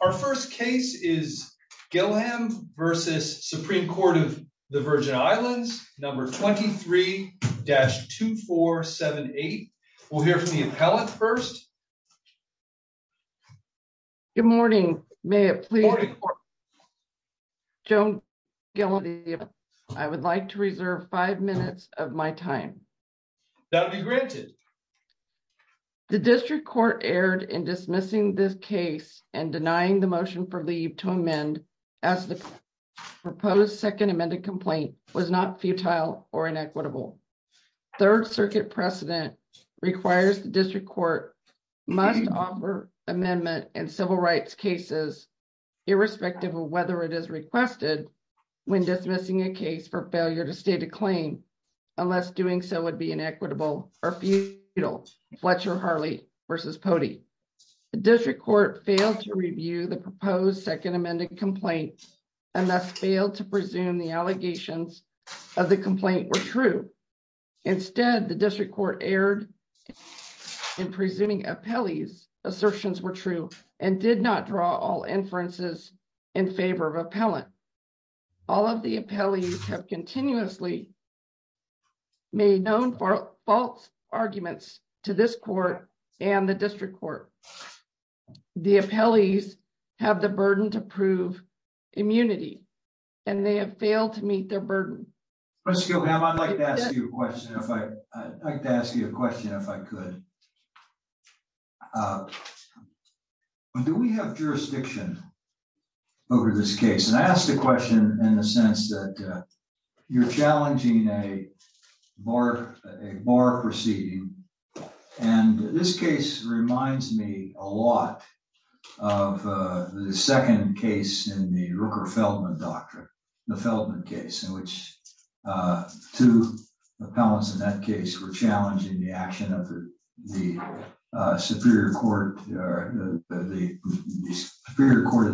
Our first case is Gillaham v. Supreme Court of the Virgin Islands, No. 23-2478. We'll hear from the appellant first. Good morning. May it please the court? Joan Gillaham, I would like to reserve five minutes of my time. That'll be granted. The District Court erred in dismissing this case and denying the motion for leave to amend as the proposed second amended complaint was not futile or inequitable. Third Circuit precedent requires the District Court must offer amendment in civil rights cases irrespective of whether it is requested when dismissing a case for failure to state a claim unless doing so would be inequitable or futile. Fletcher Harley v. Potey. The District Court failed to review the proposed second amended complaint and thus failed to presume the allegations of the complaint were true. Instead, the District Court erred in presuming appellee's assertions were true and did not draw all inferences in favor of appellant. All of the appellees have continuously made known for false arguments to this court and the District Court. The appellees have the burden to prove immunity and they have failed to meet their burden. Professor Gillaham, I'd like to ask you a question if I could. Do we have jurisdiction over this case? And I ask the question in the sense that you're challenging a bar proceeding and this case reminds me a lot of the second case in the Rooker-Feldman doctrine, the Feldman case in which two appellants in that case were challenging the action of the the Superior Court of the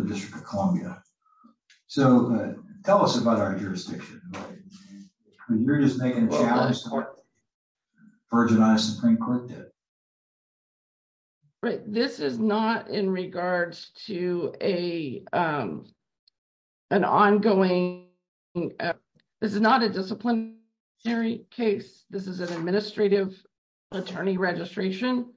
District of Columbia. So tell us about our jurisdiction. You're just making a challenge to what the Virginia Supreme Court did. Right, this is not in regards to an ongoing, this is not a disciplinary case. This is an administrative attorney registration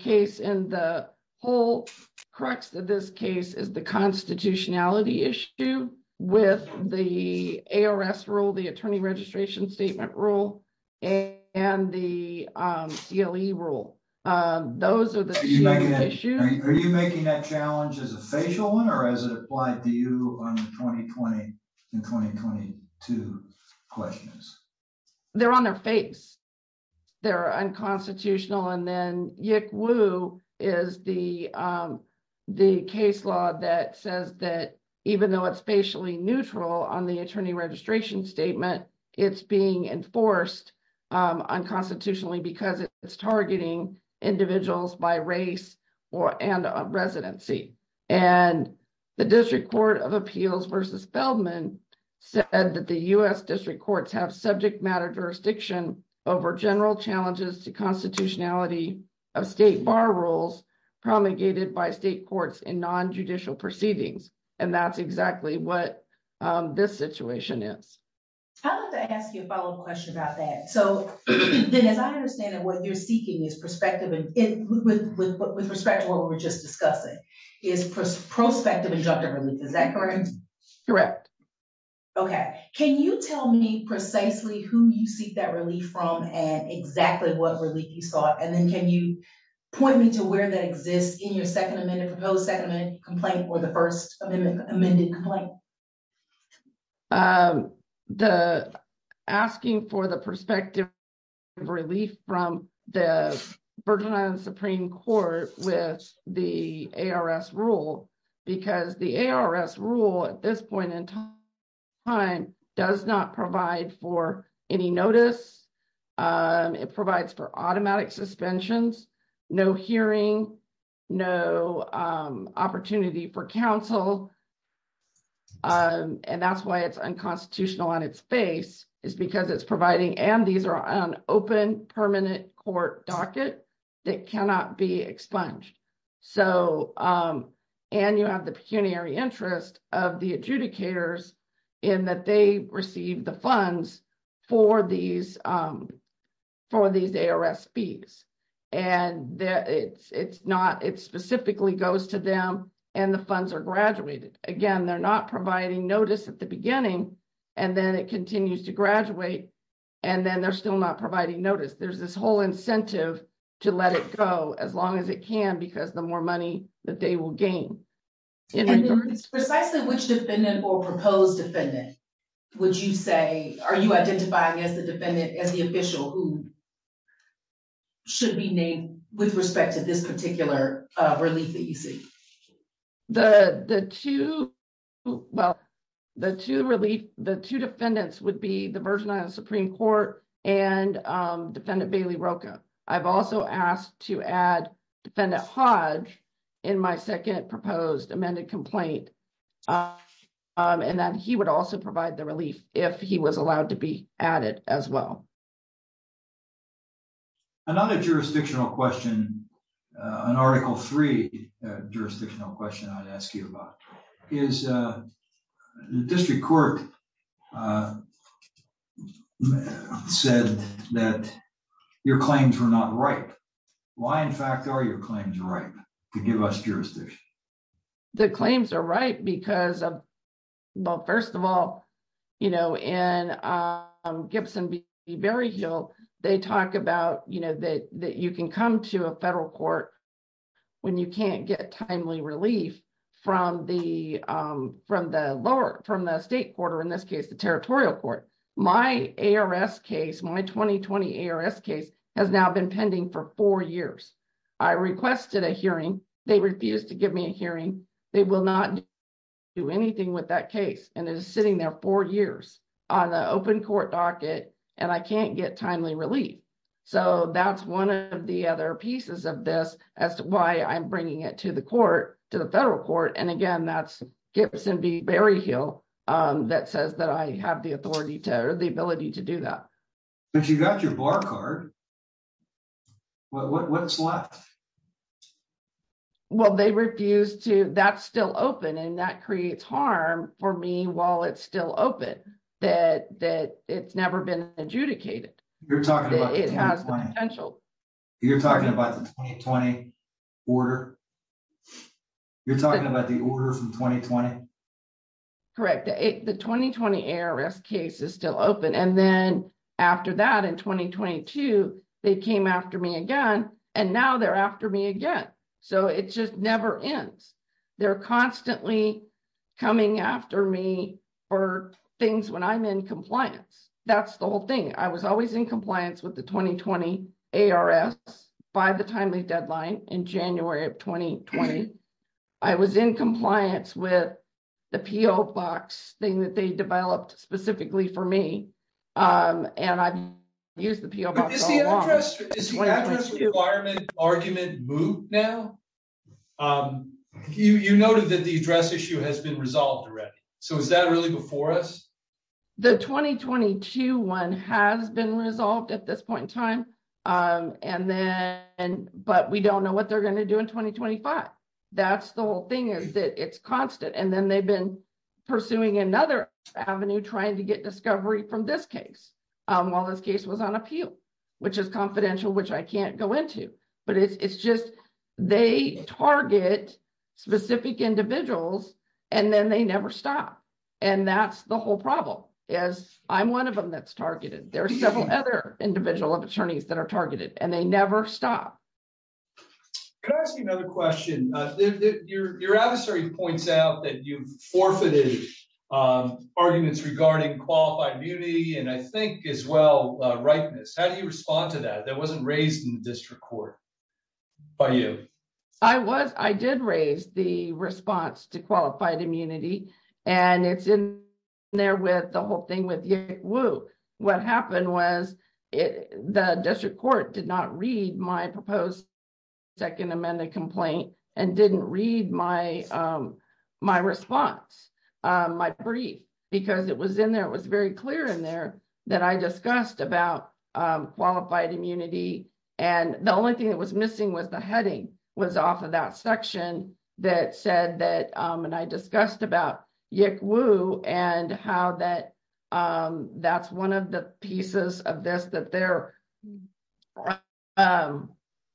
case and the whole crux of this case is the constitutionality issue with the ARS rule, the Attorney Registration Statement rule and the CLE rule. Those are the issues. Are you making that challenge as a facial one or as it applied to you on the 2020-2022 questions? They're on their face. They're unconstitutional and then Yik Wu is the case law that says that even though it's facially neutral on the Attorney Registration Statement, it's being enforced unconstitutionally because it's targeting individuals by race and residency. And the District Court of Appeals versus Feldman said that the U.S. district courts have subject matter jurisdiction over general challenges to constitutionality of state bar rules promulgated by state courts in non-judicial proceedings. And that's exactly what this situation is. I'd like to ask you a follow-up question about that. So then as I understand it, what you're seeking is perspective with respect to what we're just discussing is prospective injunctive relief. Is that correct? Correct. Can you tell me precisely who you seek that relief from and exactly what relief you sought? And then can you point me to where that exists in your second amended, proposed second amendment complaint or the first amendment amended complaint? The asking for the perspective relief from the Virgin Islands Supreme Court with the ARS rule because the ARS rule at this point in time does not provide for any notice. It provides for automatic suspensions, no hearing, no opportunity for counsel. And that's why it's unconstitutional on its face is because it's providing and these are on open permanent court docket that cannot be expunged. So, and you have the pecuniary interest of the adjudicators in that they receive the funds for these ARS fees. And it's not, it specifically goes to them and the funds are graduated. Again, they're not providing notice at the beginning and then it continues to graduate and then they're still not providing notice. There's this whole incentive to let it go as long as it can, because the more money that they will gain. Precisely which defendant or proposed defendant would you say, are you identifying as the defendant, as the official who should be named with respect to this particular relief that you see? The two, well, the two relief, the two defendants would be the Virgin Islands Supreme Court and defendant Bailey Rocha. I've also asked to add defendant Hodge in my second proposed amended complaint and that he would also provide the relief if he was allowed to be added as well. Another jurisdictional question, an article three jurisdictional question I'd ask you about is the district court said that your claims were not right. Why in fact are your claims right to give us jurisdiction? The claims are right because of, well, first of all, you know, in Gibson v. Berryhill, they talk about, you know, that you can come to a federal court when you can't get timely relief from the lower, from the state court or in this case, the territorial court. My ARS case, my 2020 ARS case has now been pending for four years. I requested a hearing. They refused to give me a hearing. They will not do anything with that case and it is sitting there four years on the open court docket and I can't get timely relief. So that's one of the other pieces of this as to why I'm bringing it to the court, to the federal court. And again, that's Gibson v. Berryhill that says that I have the authority to, or the ability to do that. But you got your bar card. What's left? Well, they refused to, that's still open and that creates harm for me while it's still open, that it's never been adjudicated. You're talking about the 2020 order? You're talking about the order from 2020? Correct. The 2020 ARS case is still open and then after that in 2022, they came after me again and now they're after me again. So it just never ends. They're constantly coming after me for things when I'm in compliance. That's the whole thing. I was always in compliance with the 2020 ARS by the timely deadline in January of 2020. I was in compliance with the PO box thing that they developed specifically for me and I've used the PO box all along. Is the address requirement argument moot now? You noted that the address issue has been resolved already. So is that really before us? The 2022 one has been resolved at this point in time. But we don't know what they're going to do in 2025. That's the whole thing is that it's constant. And then they've been pursuing another avenue trying to get discovery from this case. While this case was on appeal, which is confidential, which I can't go into. But it's just they target specific individuals and then they never stop. And that's the whole problem is I'm one of them that's targeted. There are several other individual attorneys that are targeted and they never stop. Can I ask you another question? Your adversary points out that you forfeited arguments regarding qualified immunity and I think as well rightness. How do you respond to that? That wasn't raised in the district court by you. I did raise the response to qualified immunity. And it's in there with the whole thing with you. Whoa. What happened was the district court did not read my proposed second amended complaint and didn't read my response, my brief, because it was in there. It was very clear in there that I discussed about qualified immunity. And the only thing that was missing was the heading was off of that section that said that and I discussed about Yick Woo and how that that's one of the pieces of this that they're.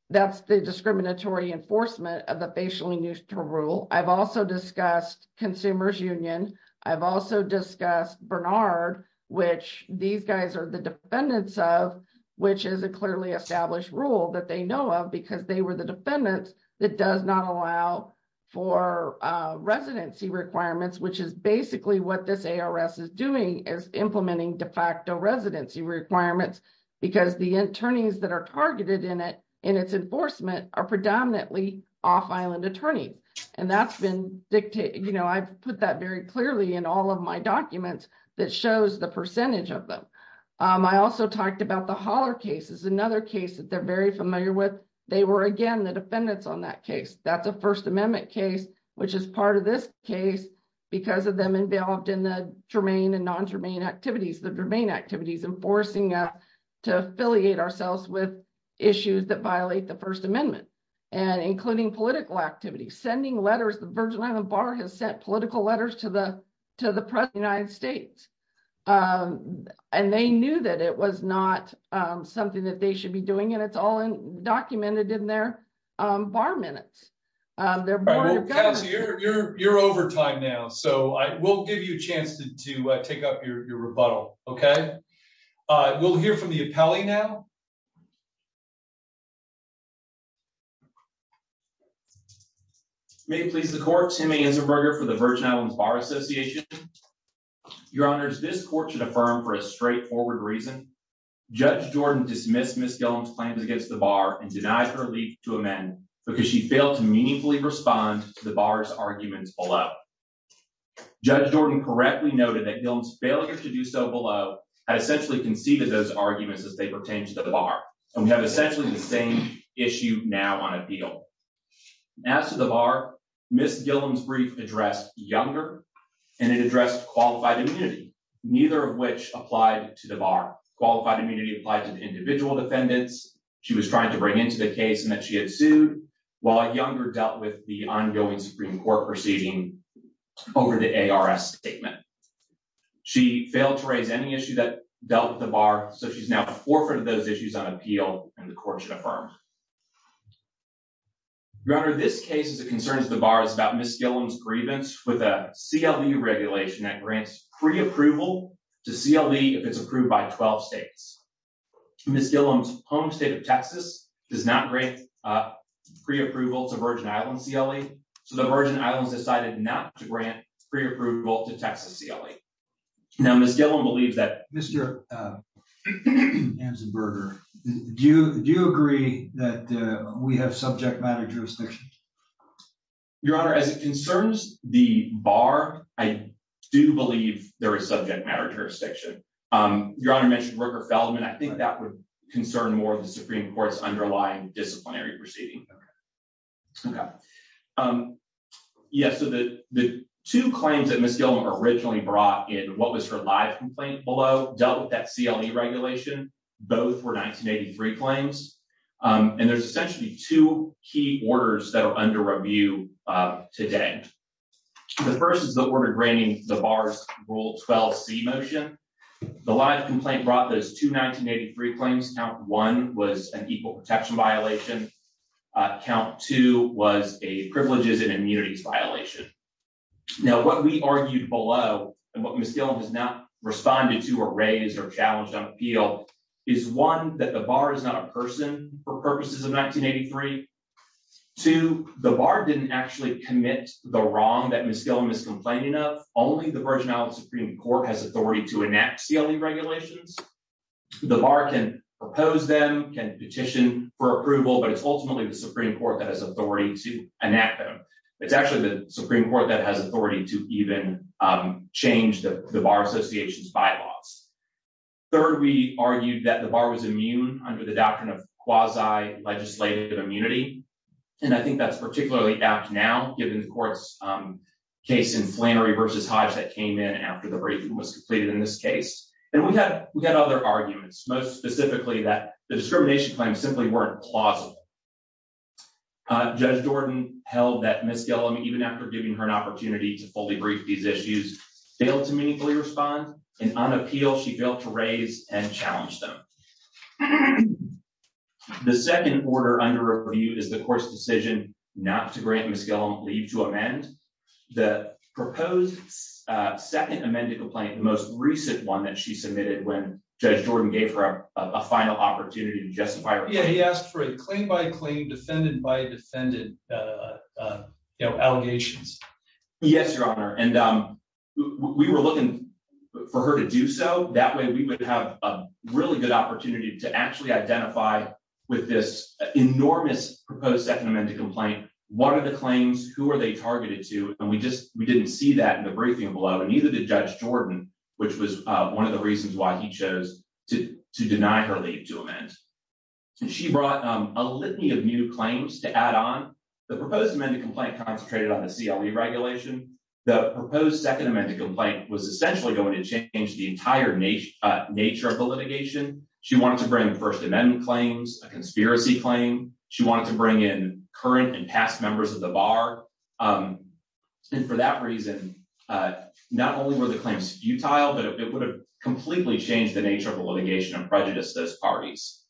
That's the discriminatory enforcement of the facially neutral rule. I've also discussed consumers union. I've also discussed Bernard, which these guys are the defendants of, which is a clearly established rule that they know of because they were the defendants that does not allow for residency requirements, which is basically what this is doing is implementing de facto residency requirements because the attorneys that are targeted in it in its enforcement are predominantly off island attorney. And that's been dictated. I've put that very clearly in all of my documents that shows the percentage of them. I also talked about the holler cases. Another case that they're very familiar with. They were, again, the defendants on that case. That's a 1st Amendment case, which is part of this case because of them involved in the germane and non-germane activities, the germane activities, and forcing to affiliate ourselves with issues that violate the 1st Amendment and including political activity, sending letters. The Virgin Island Bar has sent political letters to the to the United States. And they knew that it was not something that they should be doing. And it's all documented in their bar minutes. They're you're you're over time now. So I will give you a chance to take up your rebuttal. OK, we'll hear from the appellee now. May please the court. Timmy is a burger for the Virgin Islands Bar Association. Your honors, this court should affirm for a straightforward reason. Judge Jordan dismissed Miss Gilliam's claims against the bar and denied her leave to amend because she failed to meaningfully respond to the bar's arguments below. Judge Jordan correctly noted that Gilliam's failure to do so below had essentially conceded those arguments as they pertained to the bar. And we have essentially the same issue now on appeal. As to the bar, Miss Gilliam's brief addressed younger and it addressed qualified immunity, neither of which applied to the bar. Qualified immunity applied to the individual defendants. She was trying to bring into the case and that she had sued while a younger dealt with the ongoing Supreme Court proceeding over the A.R.S. statement. She failed to raise any issue that dealt the bar. So she's now the forefront of those issues on appeal. And the court should affirm. Your honor, this case is a concern of the bar is about Miss Gilliam's grievance with a C.L.E. regulation that grants pre-approval to C.L.E. if it's approved by 12 states. Miss Gilliam's home state of Texas does not grant pre-approval to Virgin Islands C.L.E. So the Virgin Islands decided not to grant pre-approval to Texas C.L.E. Now, Miss Gilliam believes that. Mr. Anzenberger, do you agree that we have subject matter jurisdiction? Your honor, as it concerns the bar, I do believe there is subject matter jurisdiction. Your honor mentioned Rooker Feldman. I think that would concern more of the Supreme Court's underlying disciplinary proceeding. Okay. Yes. So the two claims that Miss Gilliam originally brought in, what was her live complaint below dealt with that C.L.E. regulation. Both were 1983 claims. And there's essentially two key orders that are under review today. The first is the order granting the bar's Rule 12C motion. The live complaint brought those two 1983 claims. Count one was an equal protection violation. Count two was a privileges and immunities violation. Now, what we argued below and what Miss Gilliam has not responded to or raised or challenged on is one, that the bar is not a person for purposes of 1983. Two, the bar didn't actually commit the wrong that Miss Gilliam is complaining of. Only the version of the Supreme Court has authority to enact C.L.E. regulations. The bar can propose them, can petition for approval, but it's ultimately the Supreme Court that has authority to enact them. It's actually the Supreme Court that has authority to even change the bar association's bylaws. Third, we argued that the bar was immune under the doctrine of quasi-legislative immunity. And I think that's particularly apt now, given the court's case in Flannery versus Hodge that came in after the briefing was completed in this case. And we had other arguments, most specifically that the discrimination claims simply weren't plausible. Judge Jordan held that Miss Gilliam, even after giving her an opportunity to fully brief these issues, failed to meaningfully respond. And on appeal, she failed to raise and challenge them. The second order under review is the court's decision not to grant Miss Gilliam leave to amend. The proposed second amended complaint, the most recent one that she submitted when Judge Jordan gave her a final opportunity to justify her... Yeah, he asked for a claim-by-claim, defendant-by-defendant allegations. Yes, Your Honor. And we were looking for her to do so. That way, we would have a really good opportunity to actually identify with this enormous proposed second amended complaint. What are the claims? Who are they targeted to? And we didn't see that in the briefing below. And neither did Judge Jordan, which was one of the reasons why he chose to deny her leave to amend. She brought a litany of new claims to add on. The proposed amended complaint concentrated on the CLE regulation. The proposed second amended complaint was essentially going to change the entire nature of the litigation. She wanted to bring First Amendment claims, a conspiracy claim. She wanted to bring in current and past members of the bar. And for that reason, not only were the claims futile, but it would have completely changed the nature of the litigation and prejudiced those parties,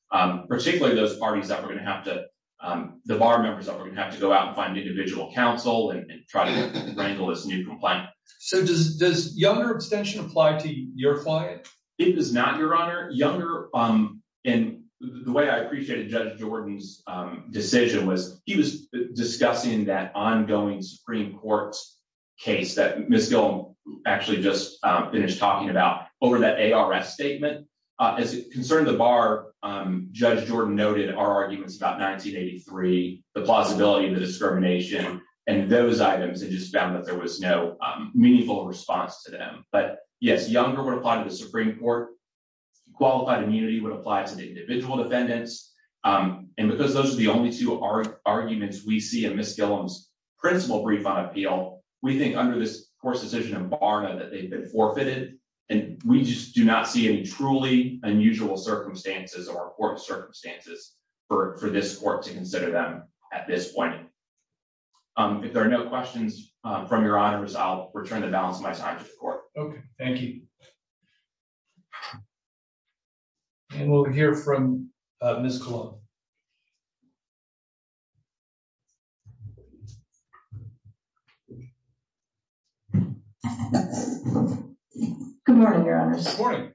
particularly those parties that were going to have to—the bar members that were going to have to go out and find individual counsel and try to wrangle this new complaint. So does Younger abstention apply to your client? It does not, Your Honor. Younger—and the way I appreciated Judge Jordan's decision was he was discussing that ongoing Supreme Court case that Ms. Gillum actually just finished talking about over that ARS statement. As it concerned the bar, Judge Jordan noted our arguments about 1983, the plausibility of the discrimination, and those items and just found that there was no meaningful response to them. But yes, Younger would apply to the Supreme Court. Qualified immunity would apply to the individual defendants. And because those are the only two arguments we see in Ms. Gillum's principal brief on appeal, we think under this Court's decision on BARNA that they've forfeited, and we just do not see any truly unusual circumstances or court circumstances for this Court to consider them at this point. If there are no questions from Your Honors, I'll return the balance of my time to the Court. Okay. Thank you. And we'll hear from Ms. Gillum. Good morning, Your Honors. Good morning.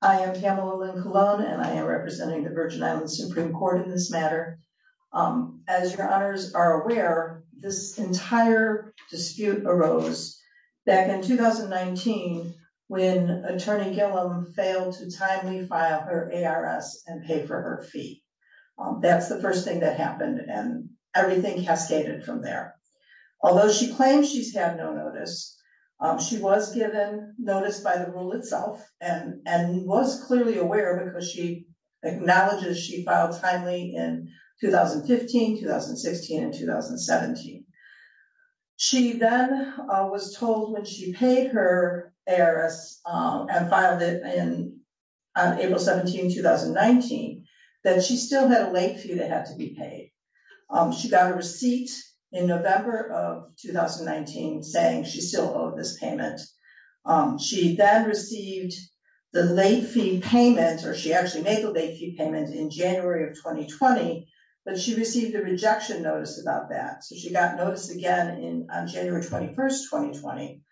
I am Pamela Lynn Colon, and I am representing the Virgin Islands Supreme Court in this matter. As Your Honors are aware, this entire dispute arose back in 2019 when Attorney Gillum failed to timely file her ARS and pay for her fee. That's the first thing that happened, and everything cascaded from there. Although she claims she's had no notice, she was given notice by the rule itself and was clearly aware because she acknowledges she filed timely in 2015, 2016, and 2017. She then was told when she paid her ARS and filed it on April 17, 2019, that she still had a late fee that had to be paid. She got a receipt in November of 2019 saying she still owed this payment. She then received the late fee payment, or she actually made the late fee payment in January of 2020, but she received a rejection notice about that. So she got notice again on January 21, 2020.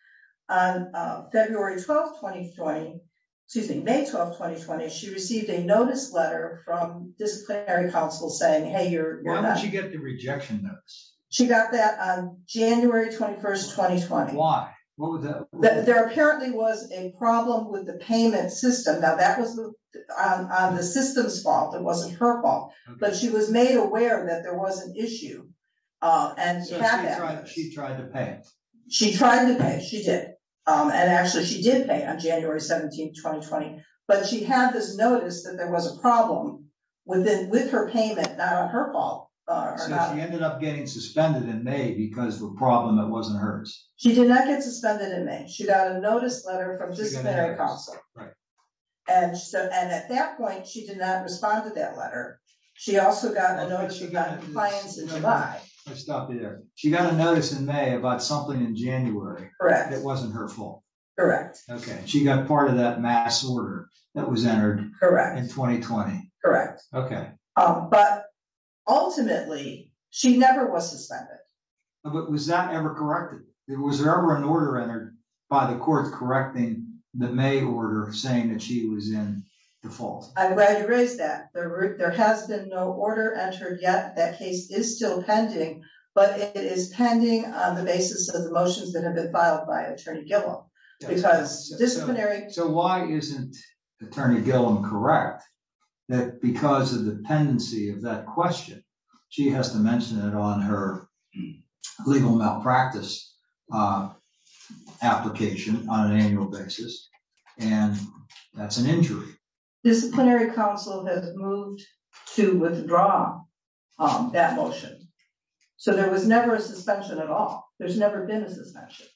On February 12, 2020, excuse me, May 12, 2020, she received a notice letter from disciplinary counsel saying, hey, you're- When did she get the rejection notice? She got that on January 21, 2020. Why? What was that? There apparently was a problem with the payment system. Now, that was on the system's fault. It wasn't her fault. But she was made aware that there was an issue and had that- So she tried to pay it? She tried to pay. She did. And actually, she did pay on January 17, 2020. But she had this notice that there was a problem with her payment, not on her fault. So she ended up getting suspended in May because of a problem that wasn't hers? She did not get suspended in May. She got a notice letter from disciplinary counsel. And at that point, she did not respond to that letter. She also got a notice- Oh, wait, she got a notice- Compliance in July. Let's stop there. She got a notice in May about something in January that wasn't her fault? Okay. She got part of that mass order that was entered in 2020? Okay. But ultimately, she never was suspended. But was that ever corrected? Was there ever an order entered by the court correcting the May order saying that she was in the fault? I'm glad you raised that. There has been no order entered yet. That case is still pending. But it is pending on the basis of the motions that have been filed by Attorney Gillum. Because disciplinary- So why isn't Attorney Gillum correct that because of the tendency of that question, she has to mention it on her legal malpractice application on an annual basis? And that's an injury. Disciplinary counsel has moved to withdraw that motion. So there was never a suspension at all. There's never been a suspension.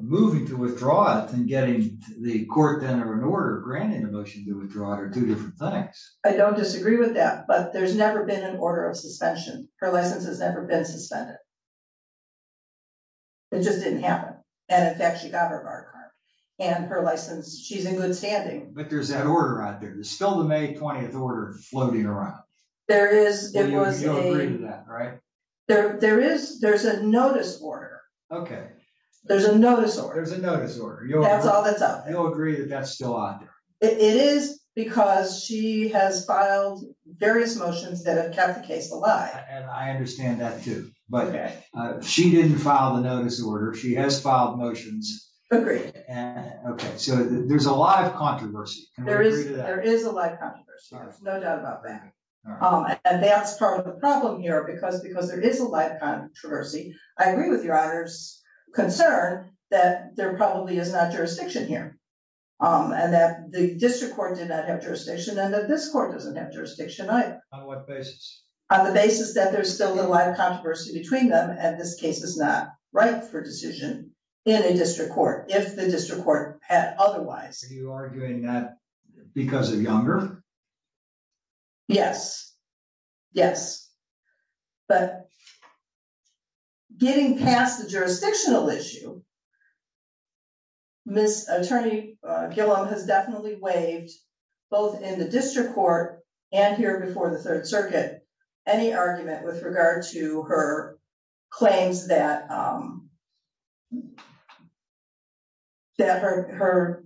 Moving to withdraw it and getting the court then or an order granting the motion to withdraw it are two different things. I don't disagree with that. But there's never been an order of suspension. Her license has never been suspended. It just didn't happen. And in fact, she got her bar card. And her license, she's in good standing. But there's that order out there. There's still the May 20th order floating around. There is. There's a notice order. There's a notice order. There's a notice order. That's all that's out. You'll agree that that's still out there. It is because she has filed various motions that have kept the case alive. And I understand that too. But she didn't file the notice order. She has filed motions. Agreed. So there's a lot of controversy. There is. There is a lot of controversy. There's no doubt about that. And that's part of the problem here. Because there is a lot of controversy. I agree with your honor's concern that there probably is not jurisdiction here. And that the district court did not have jurisdiction. And that this court doesn't have jurisdiction either. On what basis? On the basis that there's still a lot of controversy between them. And this case is not right for decision in a district court. If the district court had otherwise. Are you arguing that because of Younger? Yes. Yes. But getting past the jurisdictional issue. Ms. Attorney Gillum has definitely waived both in the district court and here before the third circuit any argument with regard to her claims that that her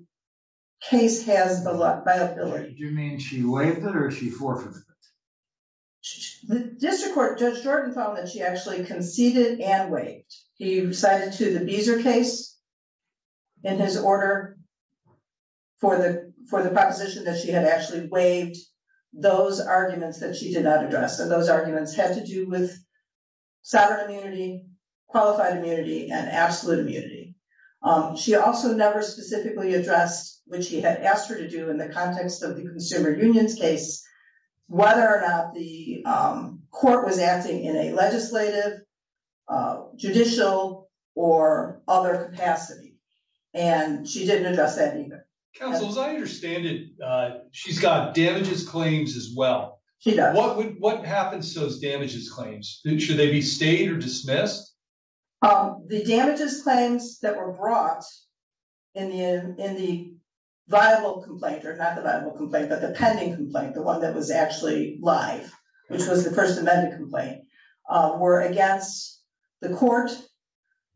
case has the liability. Do you mean she waived it or she forfeited it? The district court judge Jordan found that she actually conceded and waived. He recited to the Beezer case in his order for the proposition that she had actually waived those arguments that she did not address. And those arguments had to do with sovereign immunity, qualified immunity, and absolute immunity. She also never specifically addressed, which he had asked her to do in the context of the consumer unions case, whether or not the court was acting in a legislative, judicial, or other capacity. And she didn't address that either. Counsel, as I understand it, she's got damages claims as well. She does. What would what happens to those damages claims? Should they be stayed or dismissed? The damages claims that were brought in the viable complaint, or not the viable complaint, but the pending complaint, the one that was actually live, which was the First Amendment complaint, were against the court,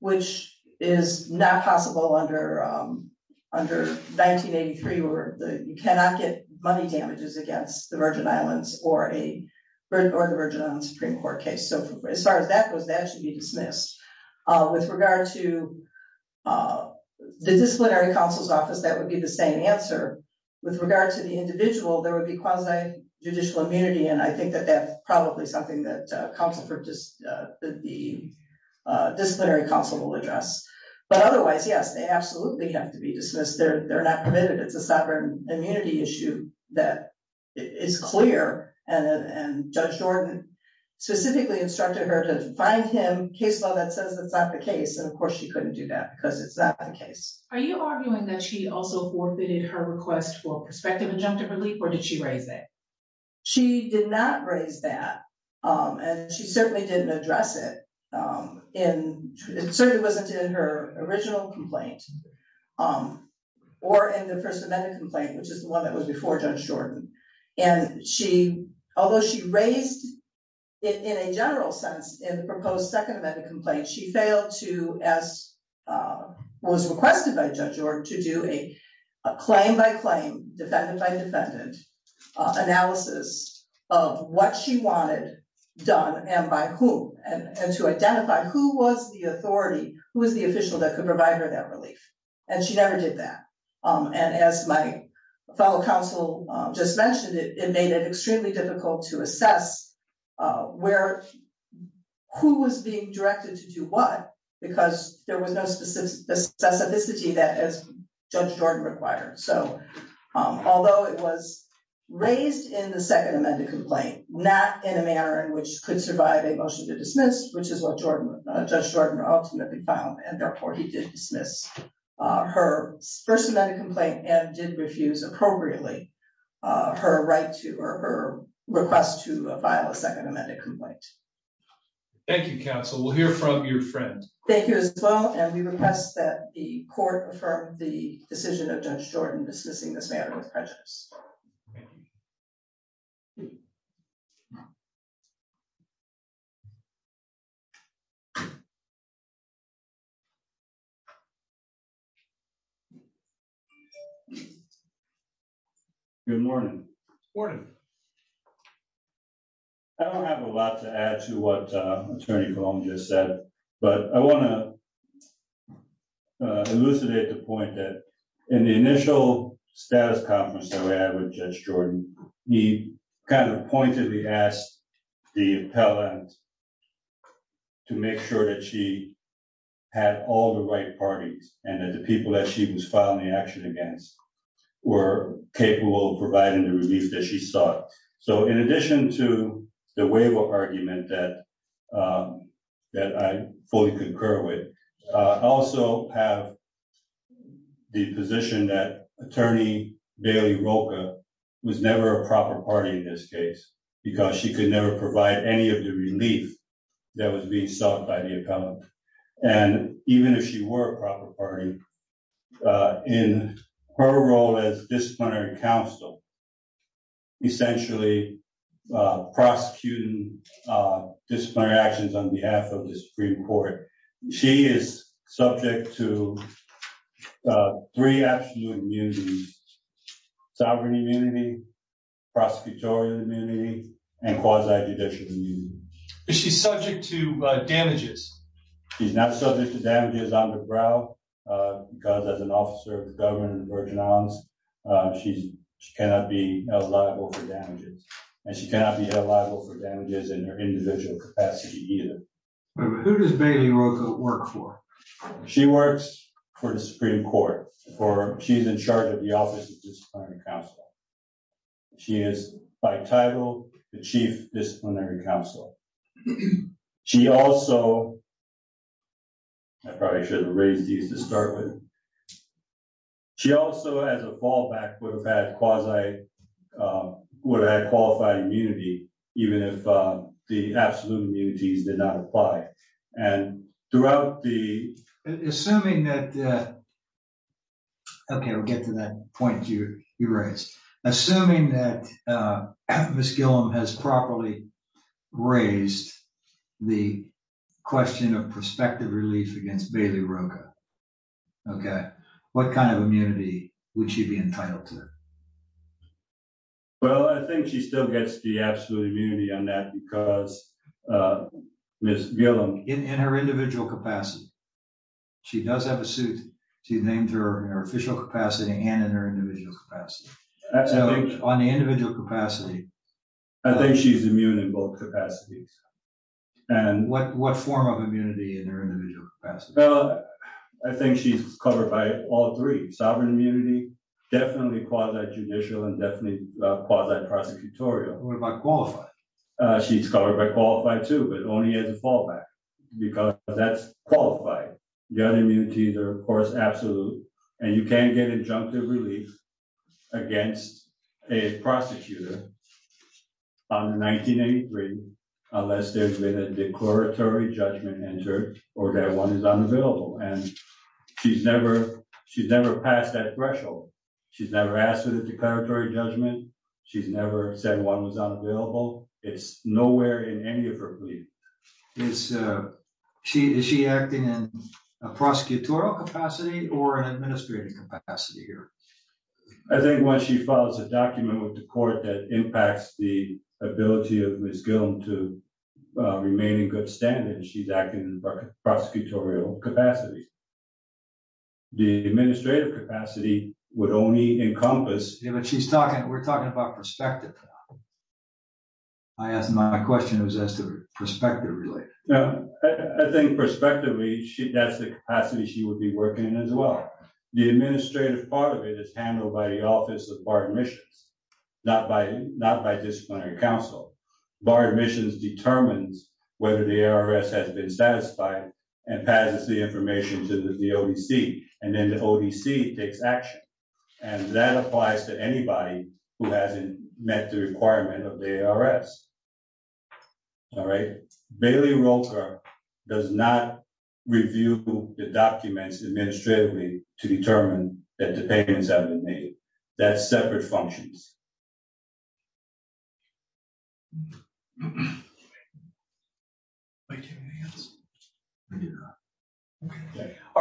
which is not possible under 1983, where you cannot get money damages against the Virgin Islands or the Virgin Islands Supreme Court case. As far as that goes, that should be dismissed. With regard to the disciplinary counsel's office, that would be the same answer. With regard to the individual, there would be quasi-judicial immunity. And I think that that's probably something that the disciplinary counsel will address. But otherwise, yes, they absolutely have to be dismissed. They're not permitted. It's a sovereign immunity issue that is clear. And Judge Jordan specifically instructed her to find him case law that says that's not the case. And of course, she couldn't do that because it's not the case. Are you arguing that she also forfeited her request for prospective injunctive relief, or did she raise that? She did not raise that, and she certainly didn't address it. And it certainly wasn't in her original complaint, or in the First Amendment complaint, which is the one that was before Judge Jordan. And although she raised it in a general sense in the proposed Second Amendment complaint, she failed to, as was requested by Judge Jordan, to do a claim-by-claim, defendant-by-defendant analysis of what she wanted done and by whom, and to identify who was the authority, who was the official that could provide her that relief. And she never did that. And as my fellow counsel just mentioned, it made it extremely difficult to assess who was being directed to do what, because there was no specificity that Judge Jordan required. So although it was raised in the Second Amendment complaint, not in a manner in which could survive a motion to dismiss, which is what Judge Jordan ultimately found, and therefore he did dismiss her First Amendment complaint, and did refuse appropriately her request to file a Second Amendment complaint. Thank you, counsel. We'll hear from your friend. Thank you as well, and we request that the court affirm the decision of Judge Jordan dismissing this matter with prejudice. Good morning. I don't have a lot to add to what Attorney Colum just said, but I want to elucidate the point that in the initial status conference that we had with Judge Jordan, he kind of pointedly asked the appellant to make sure that she had all the right parties, and that the people that she was filing the action against were capable of providing the relief that she sought. So in addition to the waiver argument that I fully concur with, I also have the position that Attorney Bailey Rocha was never a proper party in this case, because she could never provide any of the relief that was being sought by the appellant. And even if she were a proper party, in her role as disciplinary counsel, essentially prosecuting disciplinary actions on behalf of the Supreme Court, she is subject to three absolute immunities, sovereign immunity, prosecutorial immunity, and quasi-judicial immunity. Is she subject to damages? She's not subject to damages on the ground, because as an officer of the government of the Virgin Islands, she cannot be held liable for damages. And she cannot be held liable for damages in her individual capacity either. Who does Bailey Rocha work for? She works for the Supreme Court. She's in charge of the Office of Disciplinary Counsel. She is, by title, the Chief Disciplinary Counselor. She also... I probably shouldn't have raised these to start with. She also, as a fallback, would have had qualified immunity, even if the absolute immunities did not apply. And throughout the... Assuming that... Okay, we'll get to that point you raised. Assuming that Ms. Gillum has properly raised the question of prospective relief against Bailey Rocha, what kind of immunity would she be entitled to? Well, I think she still gets the absolute immunity on that, because Ms. Gillum... In her individual capacity. She does have a suit to name her official capacity and in her individual capacity. On the individual capacity... I think she's immune in both capacities. And what form of immunity in her individual capacity? Well, I think she's covered by all three. Sovereign immunity, definitely quasi-judicial, and definitely quasi-prosecutorial. What about qualified? She's covered by qualified too, but only as a fallback, because that's qualified. The other immunities are, of course, absolute. And you can't get injunctive relief against a prosecutor on 1983 unless there's been a declaratory judgment entered or that one is unavailable. And she's never passed that threshold. She's never asked for the declaratory judgment. She's never said one was unavailable. It's nowhere in any of her plea. Is she acting in a prosecutorial capacity or an administrative capacity here? I think when she files a document with the court that impacts the ability of Ms. Gillum to remain in good standing, she's acting in prosecutorial capacity. The administrative capacity would only encompass... We're talking about perspective. I asked my question. It was as to perspective related. No, I think prospectively, that's the capacity she would be working in as well. The administrative part of it is handled by the Office of Bar Admissions, not by disciplinary counsel. Bar Admissions determines whether the ARS has been satisfied and passes the information to the ODC. And then the ODC takes action. And that applies to anybody who hasn't met the requirement of the ARS. All right. Bailey Roker does not review the documents administratively to determine that the payments have been made. That's separate functions. All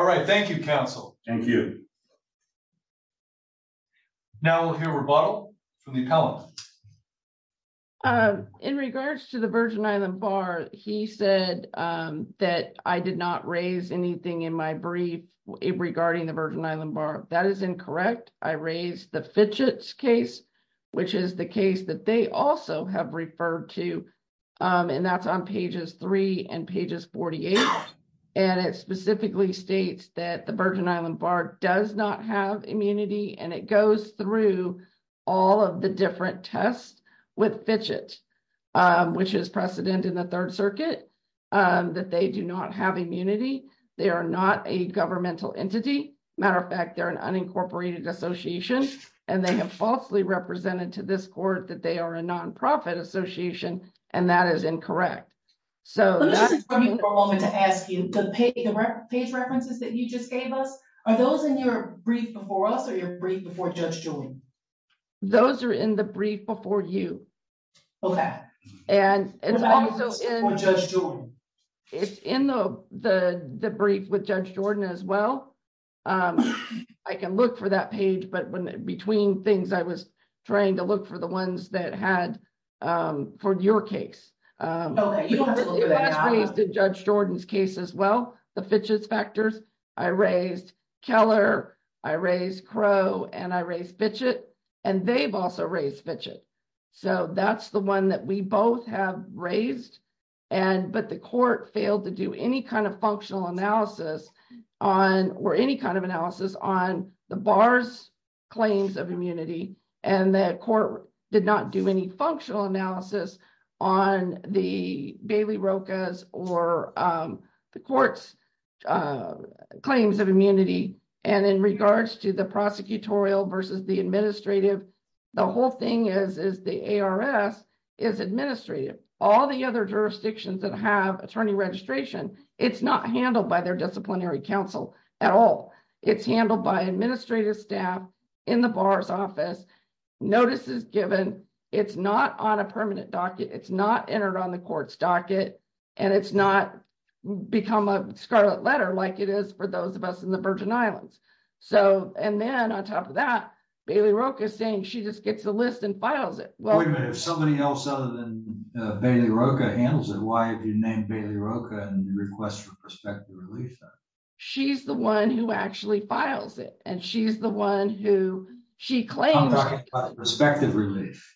right, thank you, counsel. Thank you. Now we'll hear a rebuttal from the appellant. In regards to the Virgin Island Bar, he said that I did not raise anything in my brief regarding the Virgin Island Bar. That is incorrect. I raised the Fitchett's case, which is the case that they also have referred to. And that's on pages three and pages 48. And it specifically states that the Virgin Island Bar does not have immunity. And it goes through all of the different tests with Fitchett, which is precedent in the Third Circuit, that they do not have immunity. They are not a governmental entity. Matter of fact, they're an unincorporated association. And they have falsely represented to this court that they are a nonprofit association. And that is incorrect. So let me ask you, the page references that you just gave us, are those in your brief before us or your brief before Judge Jordan? Those are in the brief before you. And it's also in the brief with Judge Jordan as well. I can look for that page. But between things, I was trying to look for the ones that had for your case. Oh, you have a little bit of that. It was raised in Judge Jordan's case as well, the Fitchett's factors. I raised Keller. I raised Crow. And I raised Fitchett. And they've also raised Fitchett. So that's the one that we both have raised. But the court failed to do any kind of functional analysis or any kind of analysis on the bar's claims of immunity. And the court did not do any functional analysis on the Bailey Rocha's or the court's claims of immunity. And in regards to the prosecutorial versus the administrative, the whole thing is the ARS is administrative. All the other jurisdictions that have attorney registration, it's not handled by their disciplinary counsel at all. It's handled by administrative staff in the bar's office. Notice is given. It's not on a permanent docket. It's not entered on the court's docket. And it's not become a scarlet letter like it is for those of us in the Virgin Islands. So, and then on top of that, Bailey Rocha saying she just gets a list and files it. Wait a minute. If somebody else other than Bailey Rocha handles it, why have you named Bailey Rocha and request for prospective relief? She's the one who actually files it. And she's the one who she claims. Prospective relief.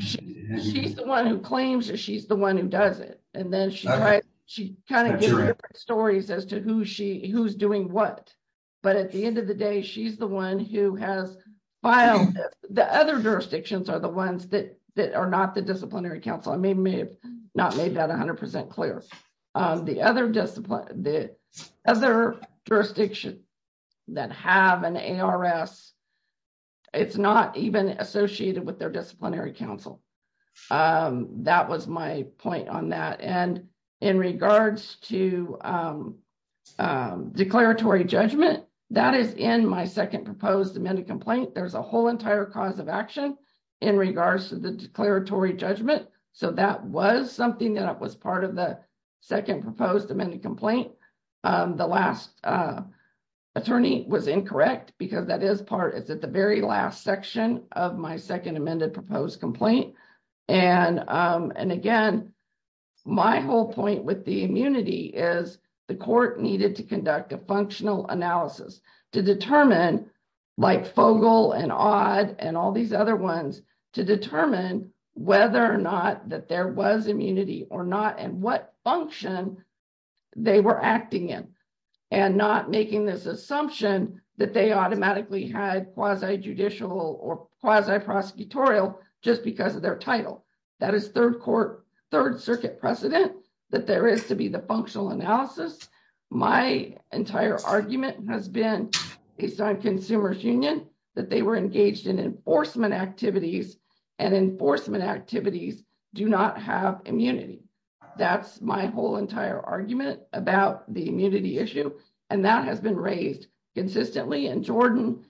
She's the one who claims it. She's the one who does it. And then she kind of gives different stories as to who's doing what. But at the end of the day, she's the one who has filed it. The other jurisdictions are the ones that are not the disciplinary counsel. I may have not made that 100% clear. The other jurisdiction that have an ARS, it's not even associated with their disciplinary counsel. That was my point on that. And in regards to declaratory judgment, that is in my second proposed amended complaint. There's a whole entire cause of action in regards to the declaratory judgment. So that was something that was part of the second proposed amended complaint. The last attorney was incorrect because that is part, it's at the very last section of my second amended proposed complaint. And again, my whole point with the immunity is the court needed to conduct a functional analysis to determine like Fogle and Odd and all these other ones to determine whether or not that there was immunity or not and what function they were acting in and not making this assumption that they automatically had quasi-judicial or quasi-prosecutorial just because of their title. That is third court, third circuit precedent that there is to be the functional analysis. My entire argument has been, it's not a consumer's union that they were engaged in enforcement activities and enforcement activities do not have immunity. That's my whole entire argument about the immunity issue. And that has been raised consistently. And Jordan,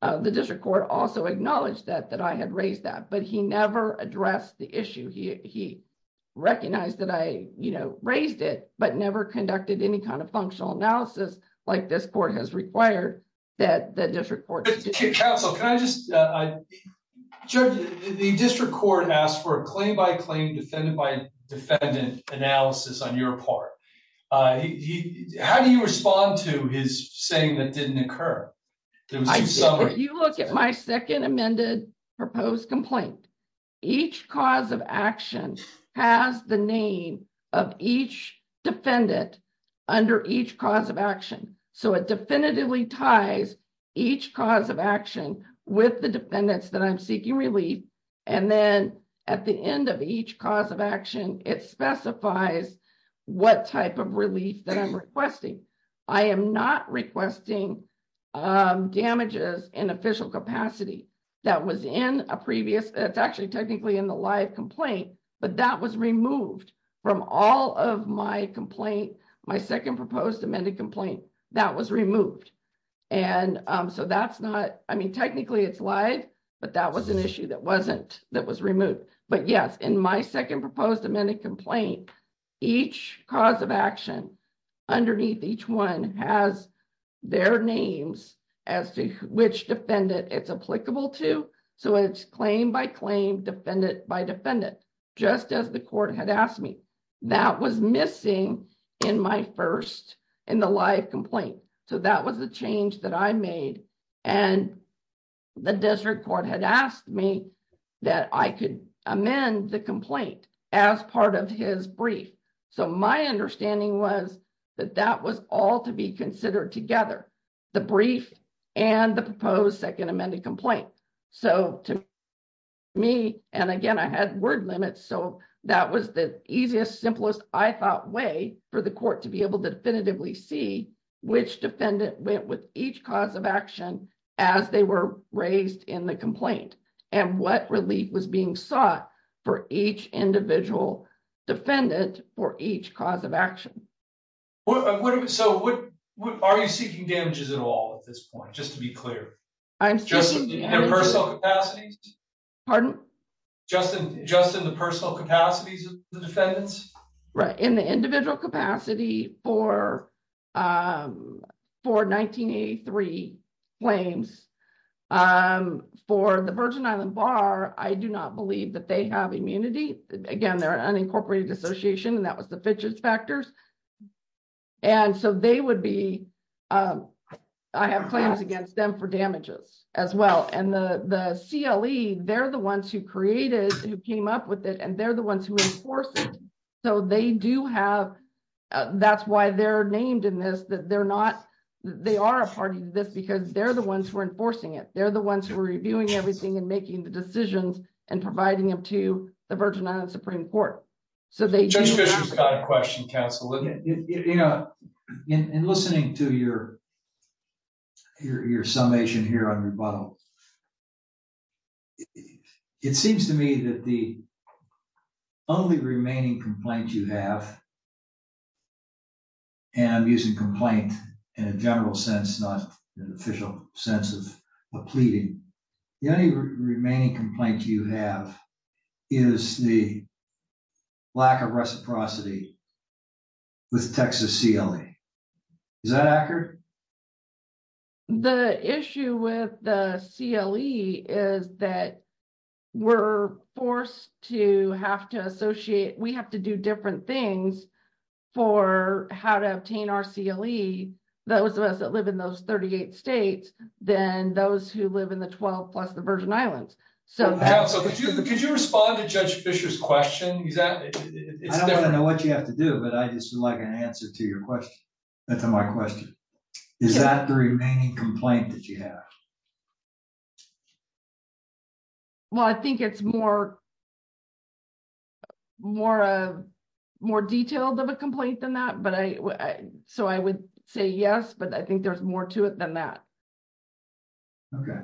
the district court also acknowledged that I had raised that, but he never addressed the issue. He recognized that I raised it, but never conducted any kind of functional analysis like this court has required that the district court. Judge, the district court asked for a claim by claim, defendant by defendant analysis on your part. He, how do you respond to his saying that didn't occur? If you look at my second amended proposed complaint, each cause of action has the name of each defendant under each cause of action. So it definitively ties each cause of action with the defendants that I'm seeking relief. And then at the end of each cause of action, it specifies what type of relief that I'm requesting. I am not requesting damages in official capacity that was in a previous, it's actually technically in the live complaint, but that was removed from all of my complaint, my second proposed amended complaint that was removed. And so that's not, I mean, technically it's live, but that was an issue that wasn't, that was removed. But yes, in my second proposed amended complaint, each cause of action underneath each one has their names as to which defendant it's applicable to. So it's claim by claim, defendant by defendant, just as the court had asked me. That was missing in my first, in the live complaint. So that was the change that I made. And the district court had asked me that I could amend the complaint as part of his brief. So my understanding was that that was all to be considered together, the brief and the proposed second amended complaint. So to me, and again, I had word limits. So that was the easiest, simplest, I thought way for the court to be able to definitively see which defendant went with each cause of action as they were raised in the complaint. And what relief was being sought for each individual defendant for each cause of action. So what, are you seeking damages at all at this point, just to be clear? I'm seeking damages. Just in their personal capacities? Pardon? Just in the personal capacities of the defendants? Right, in the individual capacity for 1983 claims, and for the Virgin Island Bar, I do not believe that they have immunity. Again, they're an unincorporated association and that was the fidgets factors. And so they would be, I have claims against them for damages as well. And the CLE, they're the ones who created, who came up with it. And they're the ones who enforce it. So they do have, that's why they're named in this, that they're not, they are a party to this because they're the ones who are enforcing it. They're the ones who are reviewing everything and making the decisions and providing them to the Virgin Island Supreme Court. So they- Judge Fisher's got a question, counsel. In listening to your summation here on rebuttal, it seems to me that the only remaining complaint you have, and I'm using complaint in a general sense, not an official sense of a pleading. The only remaining complaint you have is the lack of reciprocity with Texas CLE. Is that accurate? The issue with the CLE is that we're forced to have to associate, we have to do different things for how to obtain our CLE. Those of us that live in those 38 states, then those who live in the 12 plus the Virgin Islands. So- Counsel, could you respond to Judge Fisher's question? I don't want to know what you have to do, but I just would like an answer to your question, to my question. Is that the remaining complaint that you have? Well, I think it's more detailed of a complaint than that. So I would say yes, but I think there's more to it than that. Okay.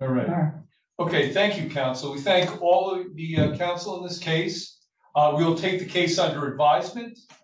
All right. Okay, thank you, counsel. We thank all of the counsel in this case. We'll take the case under advisement.